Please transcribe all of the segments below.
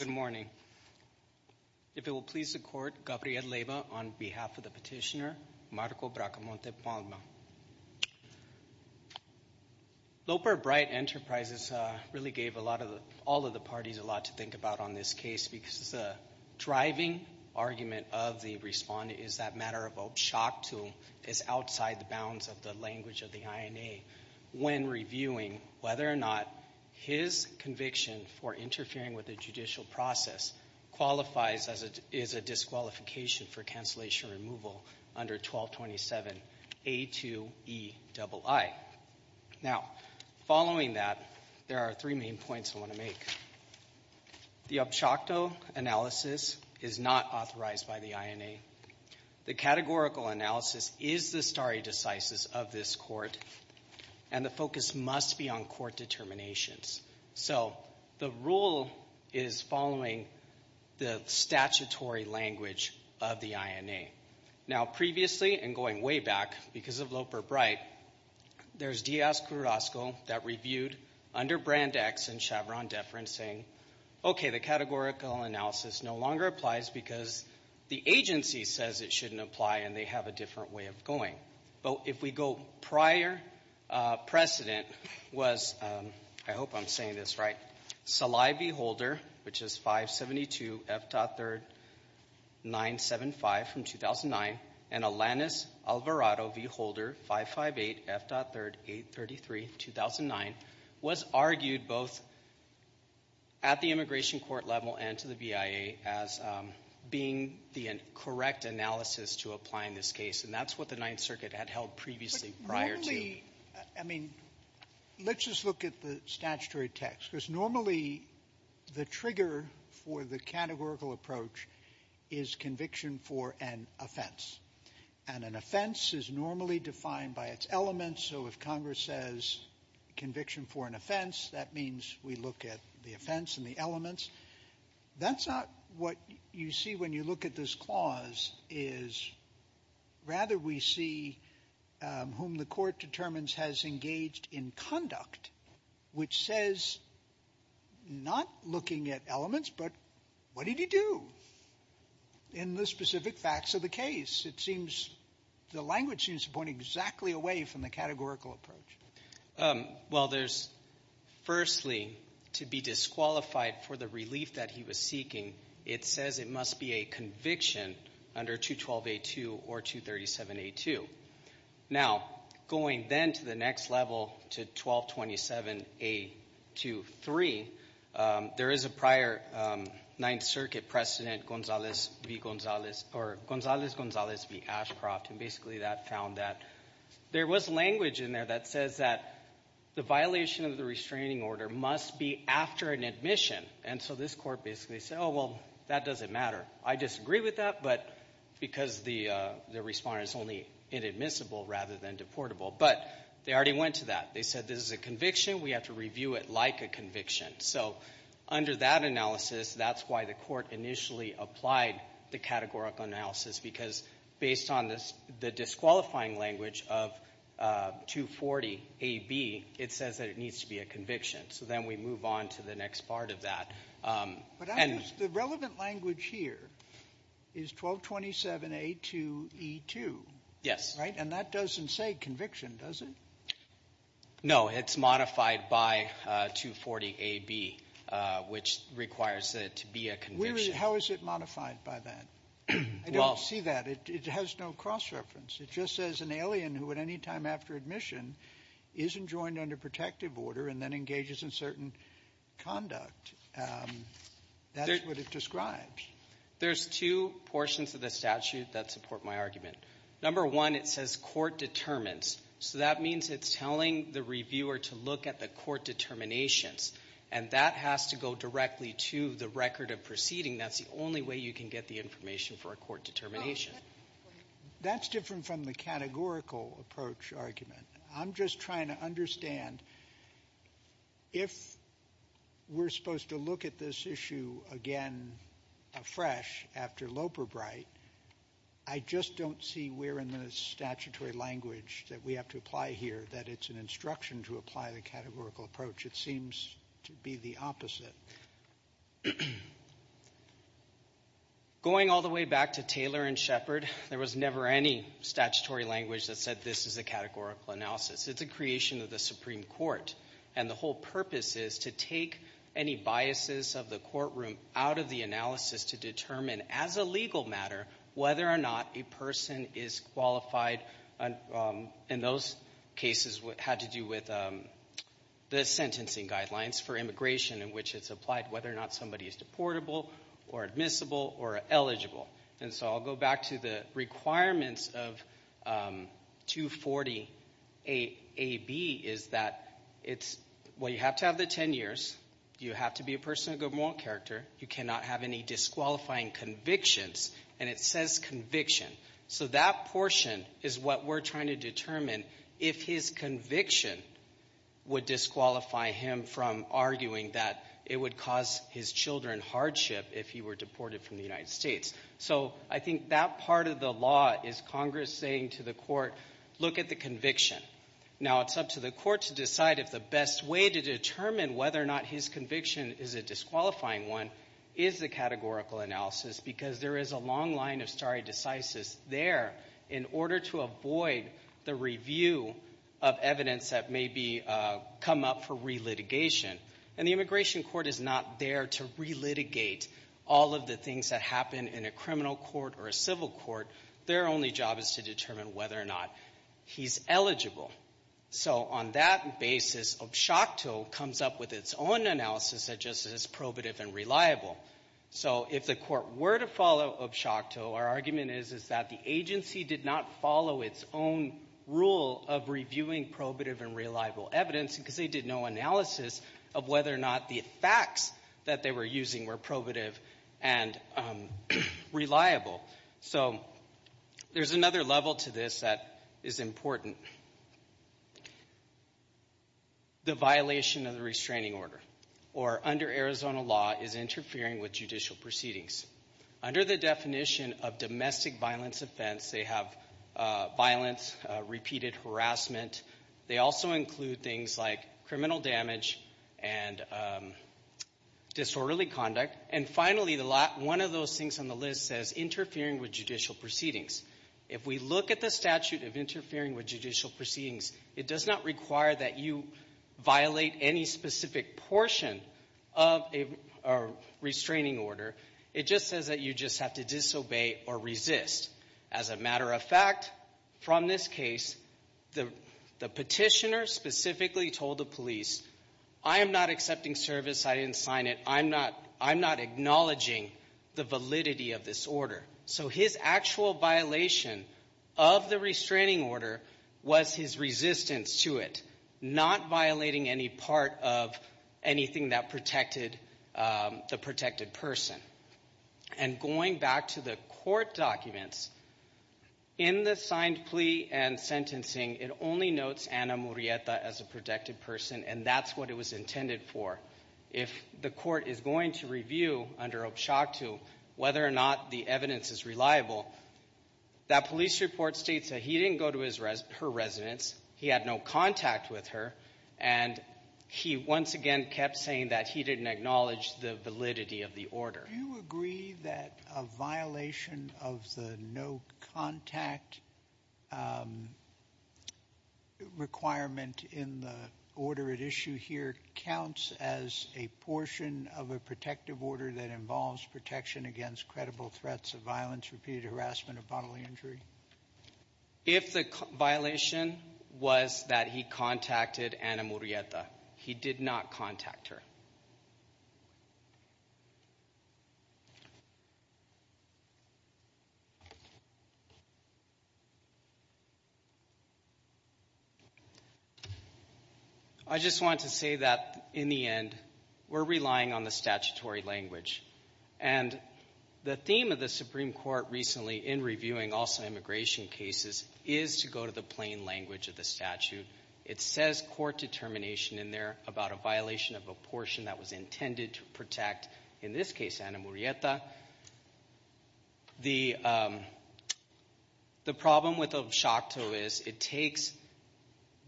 Good morning, if it will please the court, Gabriel Leyva on behalf of the petitioner Marco Bracamonte-Palma. Loper Bright Enterprises really gave all of the parties a lot to think about on this case because the driving argument of the respondent is that matter of shock to him is outside the bounds of the language of the INA when reviewing whether or not his conviction for interfering with the judicial process qualifies as a disqualification for cancellation removal under 1227A2EII. Now following that, there are three main points I want to make. The abshocto analysis is not authorized by the INA. The categorical analysis is the stare decisis of this court and the focus must be on court determinations. So the rule is following the statutory language of the INA. Now previously, and going way back, because of Loper Bright, there's Diaz-Carrasco that reviewed under Brand X and Chevron Deference saying, okay, the categorical analysis no longer applies because the agency says it shouldn't apply and they have a different way of going. But if we go prior precedent was, I hope I'm saying this right, Salai Beholder, which is Alvarado v. Holder, 558F.38332009, was argued both at the immigration court level and to the BIA as being the correct analysis to apply in this case. And that's what the Ninth Circuit had held previously prior to you. Sotomayor Let's just look at the statutory text because normally the trigger for the offense, and an offense is normally defined by its elements. So if Congress says conviction for an offense, that means we look at the offense and the elements. That's not what you see when you look at this clause is rather we see whom the court determines has engaged in conduct, which says not looking at elements, but what did he do in the specific facts of the case? It seems the language seems to point exactly away from the categorical approach. Salai Beholder Well, there's firstly to be disqualified for the relief that he was seeking. It says it must be a conviction under 212A2 or 237A2. Now going then to the next level to 1227A23, there is a prior Ninth Circuit provision to President Gonzales v. Ashcroft, and basically that found that there was language in there that says that the violation of the restraining order must be after an admission. And so this court basically said, oh, well, that doesn't matter. I disagree with that, but because the respondent is only inadmissible rather than deportable. But they already went to that. They said this is a conviction. We have to review it like a conviction. So under that analysis, that's why the court initially applied the categorical analysis, because based on the disqualifying language of 240AB, it says that it needs to be a conviction. So then we move on to the next part of that. And the relevant language here is 1227A2E2. Yes. Right? And that doesn't say conviction, does it? No. It's modified by 240AB, which requires it to be a conviction. How is it modified by that? I don't see that. It has no cross-reference. It just says an alien who at any time after admission isn't joined under protective order and then engages in certain conduct. That's what it describes. There's two portions of the statute that support my argument. Number one, it says court determines. So that means it's telling the reviewer to look at the court determinations. And that has to go directly to the record of proceeding. That's the only way you can get the information for a court determination. That's different from the categorical approach argument. I'm just trying to understand if we're supposed to look at this issue again afresh after Loperbright, I just don't see where in the statutory language that we have to apply here that it's an instruction to apply the categorical approach. It seems to be the opposite. Going all the way back to Taylor and Shepard, there was never any statutory language that said this is a categorical analysis. It's a creation of the Supreme Court. And the whole purpose is to take any biases of the courtroom out of the analysis to determine as a legal matter whether or not a person is qualified. And those cases had to do with the sentencing guidelines for immigration in which it's applied whether or not somebody is deportable or admissible or eligible. And so I'll go back to the requirements of 240AB is that it's, well, you have to have the 10 years. You have to be a person of good moral character. You cannot have any disqualifying convictions. And it says conviction. So that portion is what we're trying to determine if his conviction would disqualify him from arguing that it would cause his children hardship if he were deported from the United States. So I think that part of the law is Congress saying to the court, look at the conviction. Now it's up to the court to decide if the best way to determine whether or not his conviction is a disqualifying one is the categorical analysis because there is a long line of stare decisis there in order to avoid the review of evidence that may be come up for re-litigation. And the immigration court is not there to re-litigate all of the things that happen in a criminal court or a civil court. Their only job is to determine whether or not he's eligible. So on that basis, OB-SHOCTO comes up with its own analysis that just says probative and reliable. So if the court were to follow OB-SHOCTO, our argument is that the agency did not follow its own rule of reviewing probative and reliable evidence because they did no analysis of whether or not the facts that they were using were probative and reliable. So there's another level to this that is important, the violation of the restraining order or under Arizona law is interfering with judicial proceedings. Under the definition of domestic violence offense, they have violence, repeated harassment. They also include things like criminal damage and disorderly conduct. And finally, one of those things on the list says interfering with judicial proceedings. If we look at the statute of interfering with judicial proceedings, it does not require that you violate any specific portion of a restraining order. It just says that you just have to disobey or resist. As a matter of fact, from this case, the petitioner specifically told the police, I am not accepting service, I didn't sign it, I'm not acknowledging the validity of this order. So his actual violation of the restraining order was his resistance to it, not violating any part of anything that protected the protected person. And going back to the court documents, in the signed plea and sentencing, it only notes Anna Murrieta as a protected person, and that's what it was intended for. If the court is going to review, under OBSHAC II, whether or not the evidence is reliable, that police report states that he didn't go to her residence, he had no contact with her, and he once again kept saying that he didn't acknowledge the validity of the order. Do you agree that a violation of the no contact requirement in the order at issue here counts as a portion of a protective order that involves protection against credible threats of violence, repeated harassment, or bodily injury? If the violation was that he contacted Anna Murrieta, he did not contact her. I just want to say that, in the end, we're relying on the statutory language. And the theme of the Supreme Court recently in reviewing also immigration cases is to go to the plain language of the statute. It says court determination in there about a violation of a portion that was intended to protect, in this case, Anna Murrieta. The problem with OBSHAC II is it takes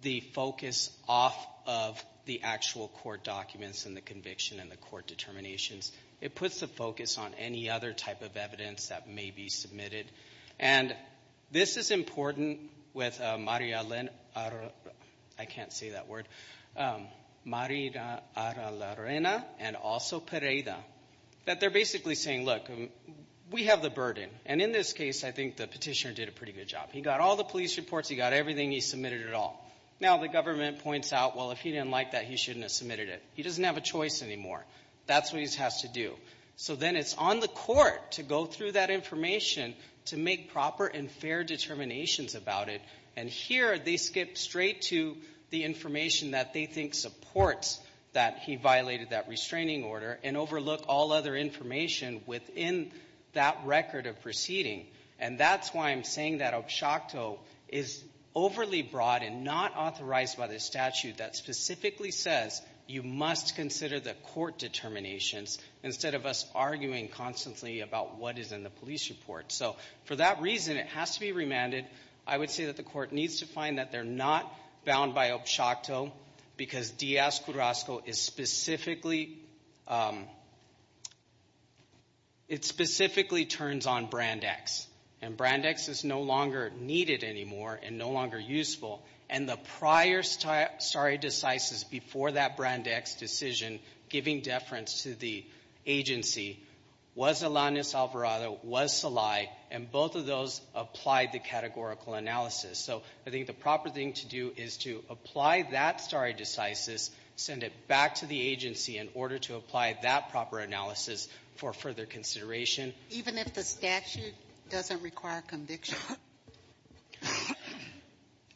the focus off of the actual court documents and the conviction and the court determinations. It puts the focus on any other type of evidence that may be submitted. And this is important with Maria Elena, I can't say that word, Maria Elena and also Pereira. That they're basically saying, look, we have the burden. And in this case, I think the petitioner did a pretty good job. He got all the police reports. He got everything. He submitted it all. Now the government points out, well, if he didn't like that, he shouldn't have submitted it. He doesn't have a choice anymore. That's what he has to do. So then it's on the court to go through that information to make proper and fair determinations about it. And here, they skip straight to the information that they think supports that he violated that restraining order and overlook all other information within that record of proceeding. And that's why I'm saying that OBSHAC II is overly broad and not authorized by the statute that specifically says you must consider the court determinations instead of us arguing constantly about what is in the police report. So for that reason, it has to be remanded. I would say that the court needs to find that they're not bound by OBSHAC II because DS-Cudrasco is specifically, it specifically turns on Brand X. And Brand X is no longer needed anymore and no longer useful. And the prior stare decisis before that Brand X decision giving deference to the agency was Alanis Alvarado, was Salai. And both of those applied the categorical analysis. So I think the proper thing to do is to apply that stare decisis, send it back to the agency in order to apply that proper analysis for further consideration. Even if the statute doesn't require conviction?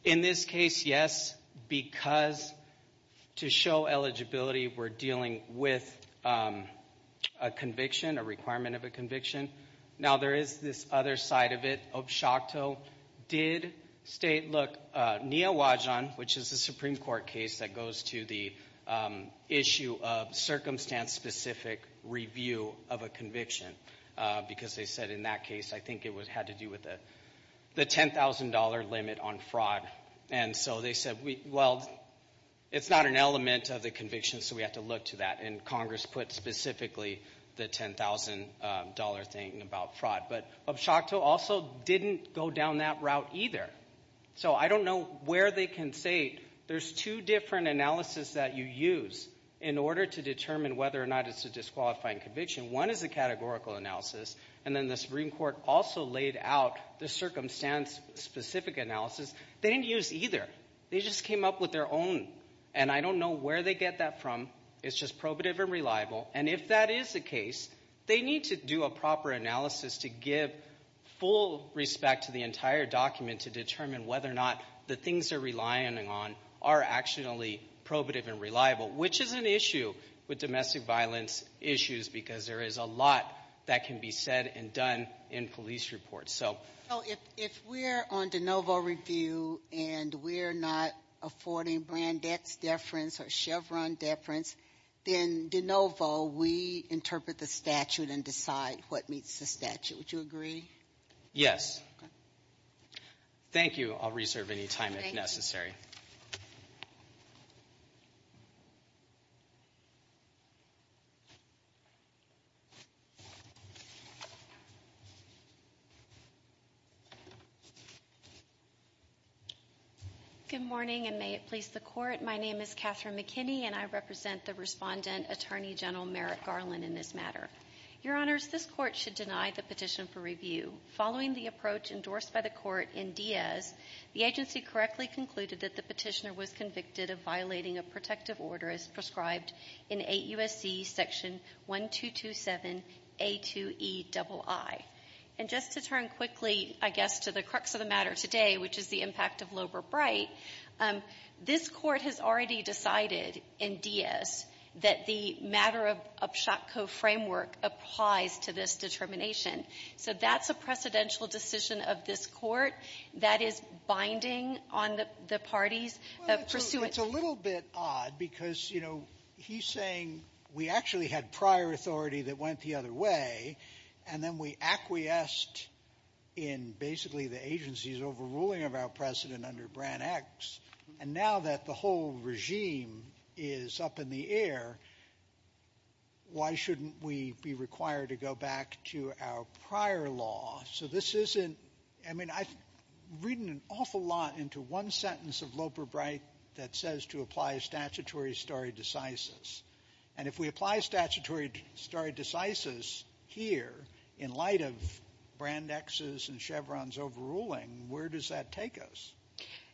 In this case, yes, because to show eligibility, we're dealing with a conviction, a requirement of a conviction. Now there is this other side of it, OBSHAC II did state, look, Nia Wajan, which is a Supreme Court case that goes to the issue of circumstance-specific review of a conviction. Because they said in that case, I think it had to do with the $10,000 limit on fraud. And so they said, well, it's not an element of the conviction, so we have to look to that. And Congress put specifically the $10,000 thing about fraud. But OBSHAC II also didn't go down that route either. So I don't know where they can say, there's two different analysis that you use in order to determine whether or not it's a disqualifying conviction. One is a categorical analysis, and then the Supreme Court also laid out the circumstance-specific analysis. They didn't use either, they just came up with their own. And I don't know where they get that from, it's just probative and reliable. And if that is the case, they need to do a proper analysis to give full respect to the entire document to determine whether or not the things they're relying on are actually probative and reliable, which is an issue with domestic violence issues, because there is a lot that can be said and done in police reports, so. So if we're on de novo review and we're not affording brand X deference or Chevron deference, then de novo, we interpret the statute and decide what meets the statute. Would you agree? Yes. Thank you, I'll reserve any time if necessary. Good morning, and may it please the Court. My name is Catherine McKinney, and I represent the Respondent, Attorney General Merrick Garland, in this matter. Your Honors, this Court should deny the petition for review. Following the approach endorsed by the Court in Diaz, the agency correctly concluded that the petitioner was convicted of violating a protective order. This order is prescribed in 8 U.S.C. section 1227 A2EII. And just to turn quickly, I guess, to the crux of the matter today, which is the impact of Loeber-Bright, this Court has already decided in Diaz that the matter of Upshot Co framework applies to this determination. So that's a precedential decision of this Court that is binding on the party's pursuance. It's a little bit odd, because he's saying we actually had prior authority that went the other way, and then we acquiesced in basically the agency's overruling of our precedent under Brand X. And now that the whole regime is up in the air, why shouldn't we be required to go back to our prior law? So this isn't, I mean, I've written an awful lot into one sentence of Loeber-Bright that says to apply statutory stare decisis. And if we apply statutory stare decisis here, in light of Brand X's and Chevron's overruling, where does that take us?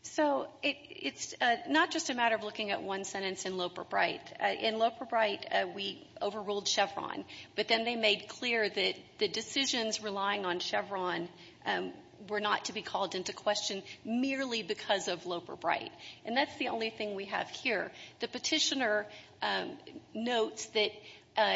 So it's not just a matter of looking at one sentence in Loeber-Bright. In Loeber-Bright, we overruled Chevron, but then they made clear that the decisions relying on Chevron were not to be called into question merely because of Loeber-Bright. And that's the only thing we have here. The Petitioner notes that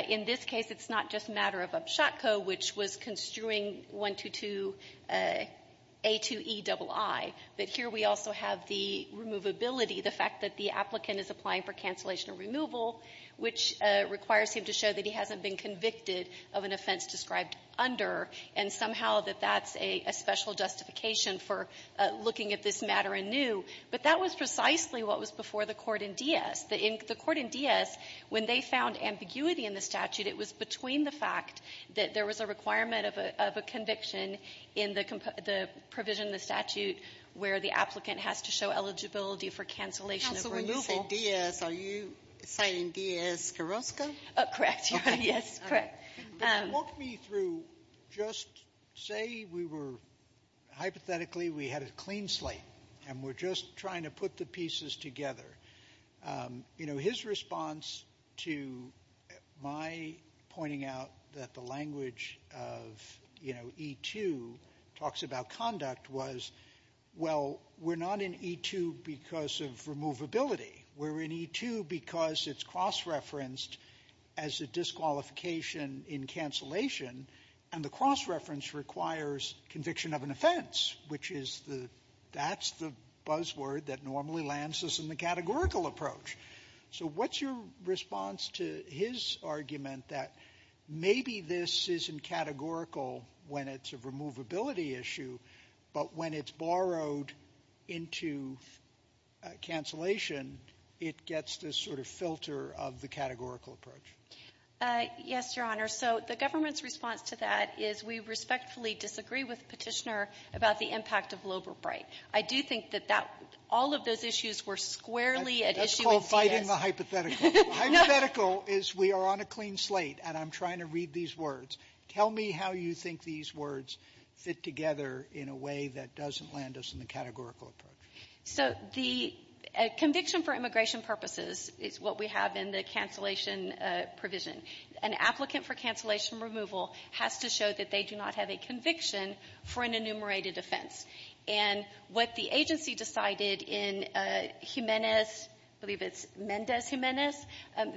in this case, it's not just a matter of Upshot Co, which was construing 122A2EII, but here we also have the removability, the fact that the statute says removal, which requires him to show that he hasn't been convicted of an offense described under, and somehow that that's a special justification for looking at this matter anew. But that was precisely what was before the court in Diaz. The court in Diaz, when they found ambiguity in the statute, it was between the fact that there was a requirement of a conviction in the provision of the statute where the applicant has to show eligibility for cancellation of removal. Sotomayor, you say Diaz, are you saying Diaz-Carrasco? Correct, yes, correct. Walk me through, just say we were, hypothetically, we had a clean slate and we're just trying to put the pieces together. You know, his response to my pointing out that the language of, you know, E2 talks about conduct was, well, we're not in E2 because of removability, we're in E2 because it's cross-referenced as a disqualification in cancellation, and the cross-reference requires conviction of an offense, which is the, that's the buzzword that normally lands us in the categorical approach. So what's your response to his argument that maybe this isn't categorical when it's a removability issue, but when it's borrowed into cancellation, it gets this sort of filter of the categorical approach? Yes, Your Honor. So the government's response to that is we respectfully disagree with Petitioner about the impact of Loeb or Bright. I do think that that, all of those issues were squarely at issue with Diaz. That's called fighting the hypothetical. The hypothetical is we are on a clean slate and I'm trying to read these words. Tell me how you think these words fit together in a way that doesn't land us in the categorical approach. So the conviction for immigration purposes is what we have in the cancellation provision. An applicant for cancellation removal has to show that they do not have a conviction for an enumerated offense. And what the agency decided in Jimenez, I believe it's Mendez-Jimenez,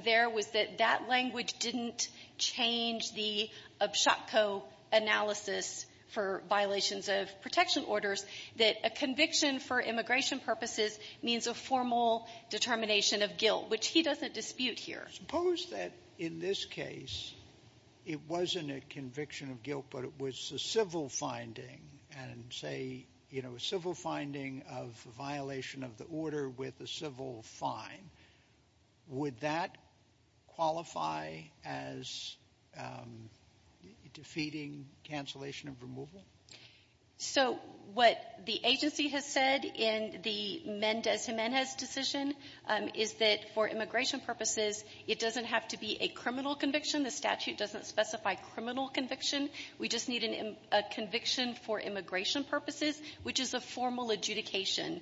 there was that language didn't change the Abshakko analysis for violations of protection orders, that a conviction for immigration purposes means a formal determination of guilt, which he doesn't dispute here. Suppose that in this case, it wasn't a conviction of guilt, but it was a civil finding and say, you know, a civil finding of violation of the order with a civil fine. Would that qualify as defeating cancellation of removal? So what the agency has said in the Mendez-Jimenez decision is that for immigration purposes, it doesn't have to be a criminal conviction. The statute doesn't specify criminal conviction. We just need a conviction for immigration purposes, which is a formal adjudication,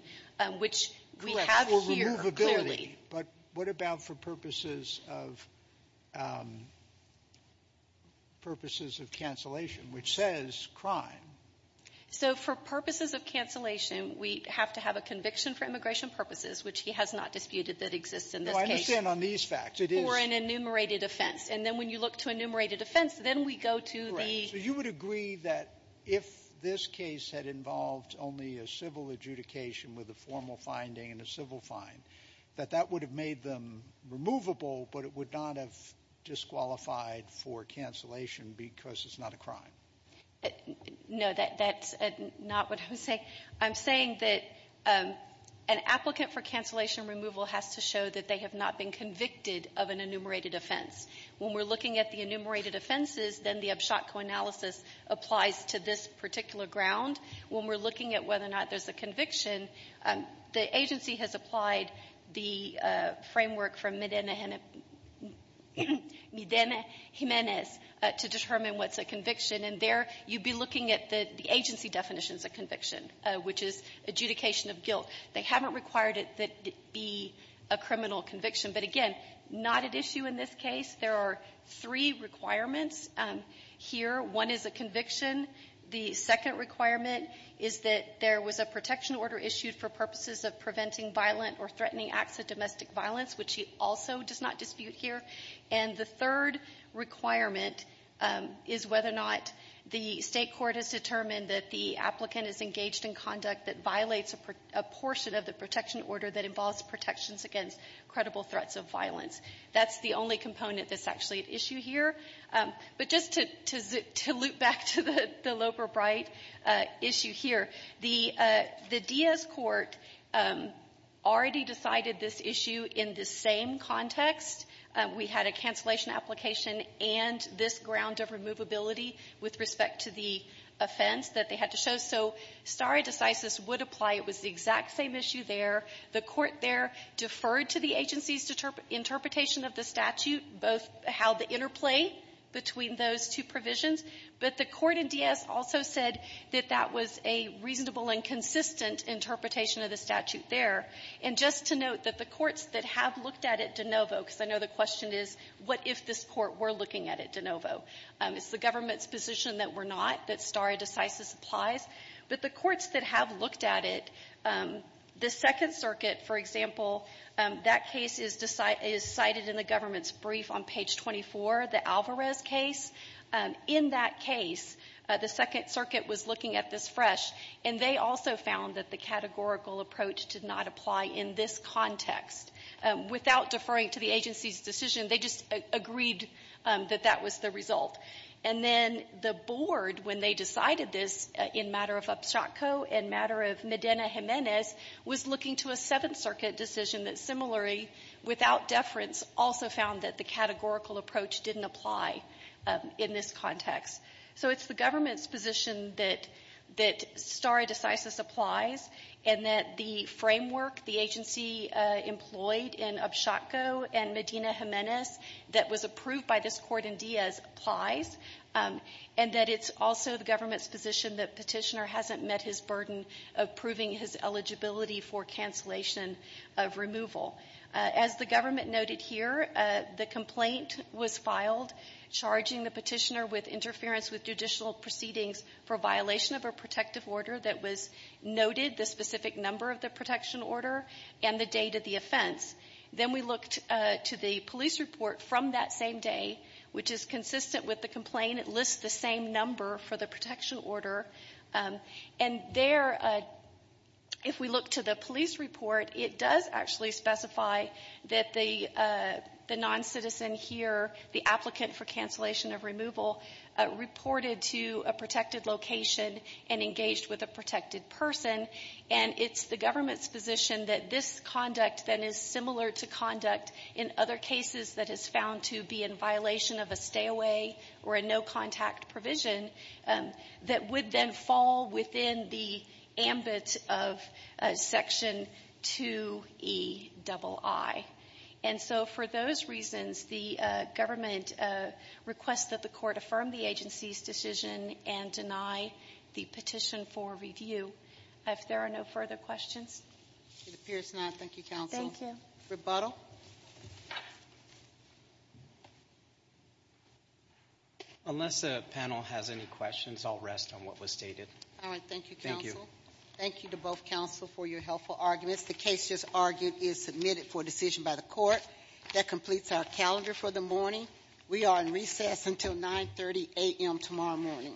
which we have here clearly. But what about for purposes of – purposes of cancellation, which says crime? So for purposes of cancellation, we have to have a conviction for immigration purposes, which he has not disputed that exists in this case. No, I understand on these facts. It is – For an enumerated offense. And then when you look to enumerated offense, then we go to the – for a formal adjudication with a formal finding and a civil fine. That that would have made them removable, but it would not have disqualified for cancellation because it's not a crime. No, that's not what I'm saying. I'm saying that an applicant for cancellation removal has to show that they have not been convicted of an enumerated offense. When we're looking at the enumerated offenses, then the abshotco analysis applies to this particular ground. When we're looking at whether or not there's a conviction, the agency has applied the framework from Medina Jimenez to determine what's a conviction. And there, you'd be looking at the agency definitions of conviction, which is adjudication of guilt. They haven't required it to be a criminal conviction. But again, not at issue in this case. There are three requirements here. One is a conviction. The second requirement is that there was a protection order issued for purposes of preventing violent or threatening acts of domestic violence, which also does not dispute here. And the third requirement is whether or not the state court has determined that the applicant is engaged in conduct that violates a portion of the protection order that involves protections against credible threats of violence. That's the only component that's actually at issue here. But just to loop back to the Loeb or Bright issue here, the Diaz court already decided this issue in the same context. We had a cancellation application and this ground of removability with respect to the offense that they had to show. So stare decisis would apply. It was the exact same issue there. The court there deferred to the agency's interpretation of the statute, both how the interplay between those two provisions. But the court in Diaz also said that that was a reasonable and consistent interpretation of the statute there. And just to note that the courts that have looked at it de novo, because I know the question is, what if this court were looking at it de novo? It's the government's position that we're not, that stare decisis applies. But the courts that have looked at it, the Second Circuit, for example, that case is cited in the government's brief on page 24, the Alvarez case. In that case, the Second Circuit was looking at this fresh and they also found that the categorical approach did not apply in this context. Without deferring to the agency's decision, they just agreed that that was the result. And then the board, when they decided this, in matter of Upshot Co. and matter of Medina Jimenez, was looking to a Seventh Circuit decision that similarly, without deference, also found that the categorical approach didn't apply in this context. So it's the government's position that stare decisis applies and that the framework the agency employed in Upshot Co. and Medina Jimenez that was approved by this court in Diaz applies. And that it's also the government's position that Petitioner hasn't met his burden of proving his eligibility for cancellation of removal. As the government noted here, the complaint was filed charging the Petitioner with interference with judicial proceedings for violation of a protective order that was noted the specific number of the protection order and the date of the offense. Then we looked to the police report from that same day, which is consistent with the complaint. It lists the same number for the protection order. And there, if we look to the police report, it does actually specify that the non-citizen here, the applicant for cancellation of removal, reported to a protected location and engaged with a protected person. And it's the government's position that this conduct then is similar to conduct in other cases that is found to be in violation of a stay-away or a no-contact provision that would then fall within the ambit of Section 2EII. And so for those reasons, the government requests that the court affirm the agency's decision and deny the petition for review. If there are no further questions? It appears not. Thank you, counsel. Thank you. Rebuttal? Unless the panel has any questions, I'll rest on what was stated. All right. Thank you, counsel. Thank you. Thank you to both counsel for your helpful arguments. The case just argued is submitted for decision by the court. That completes our calendar for the morning. We are in recess until 9.30 a.m. tomorrow morning. All rise. This court for this session stands adjourned.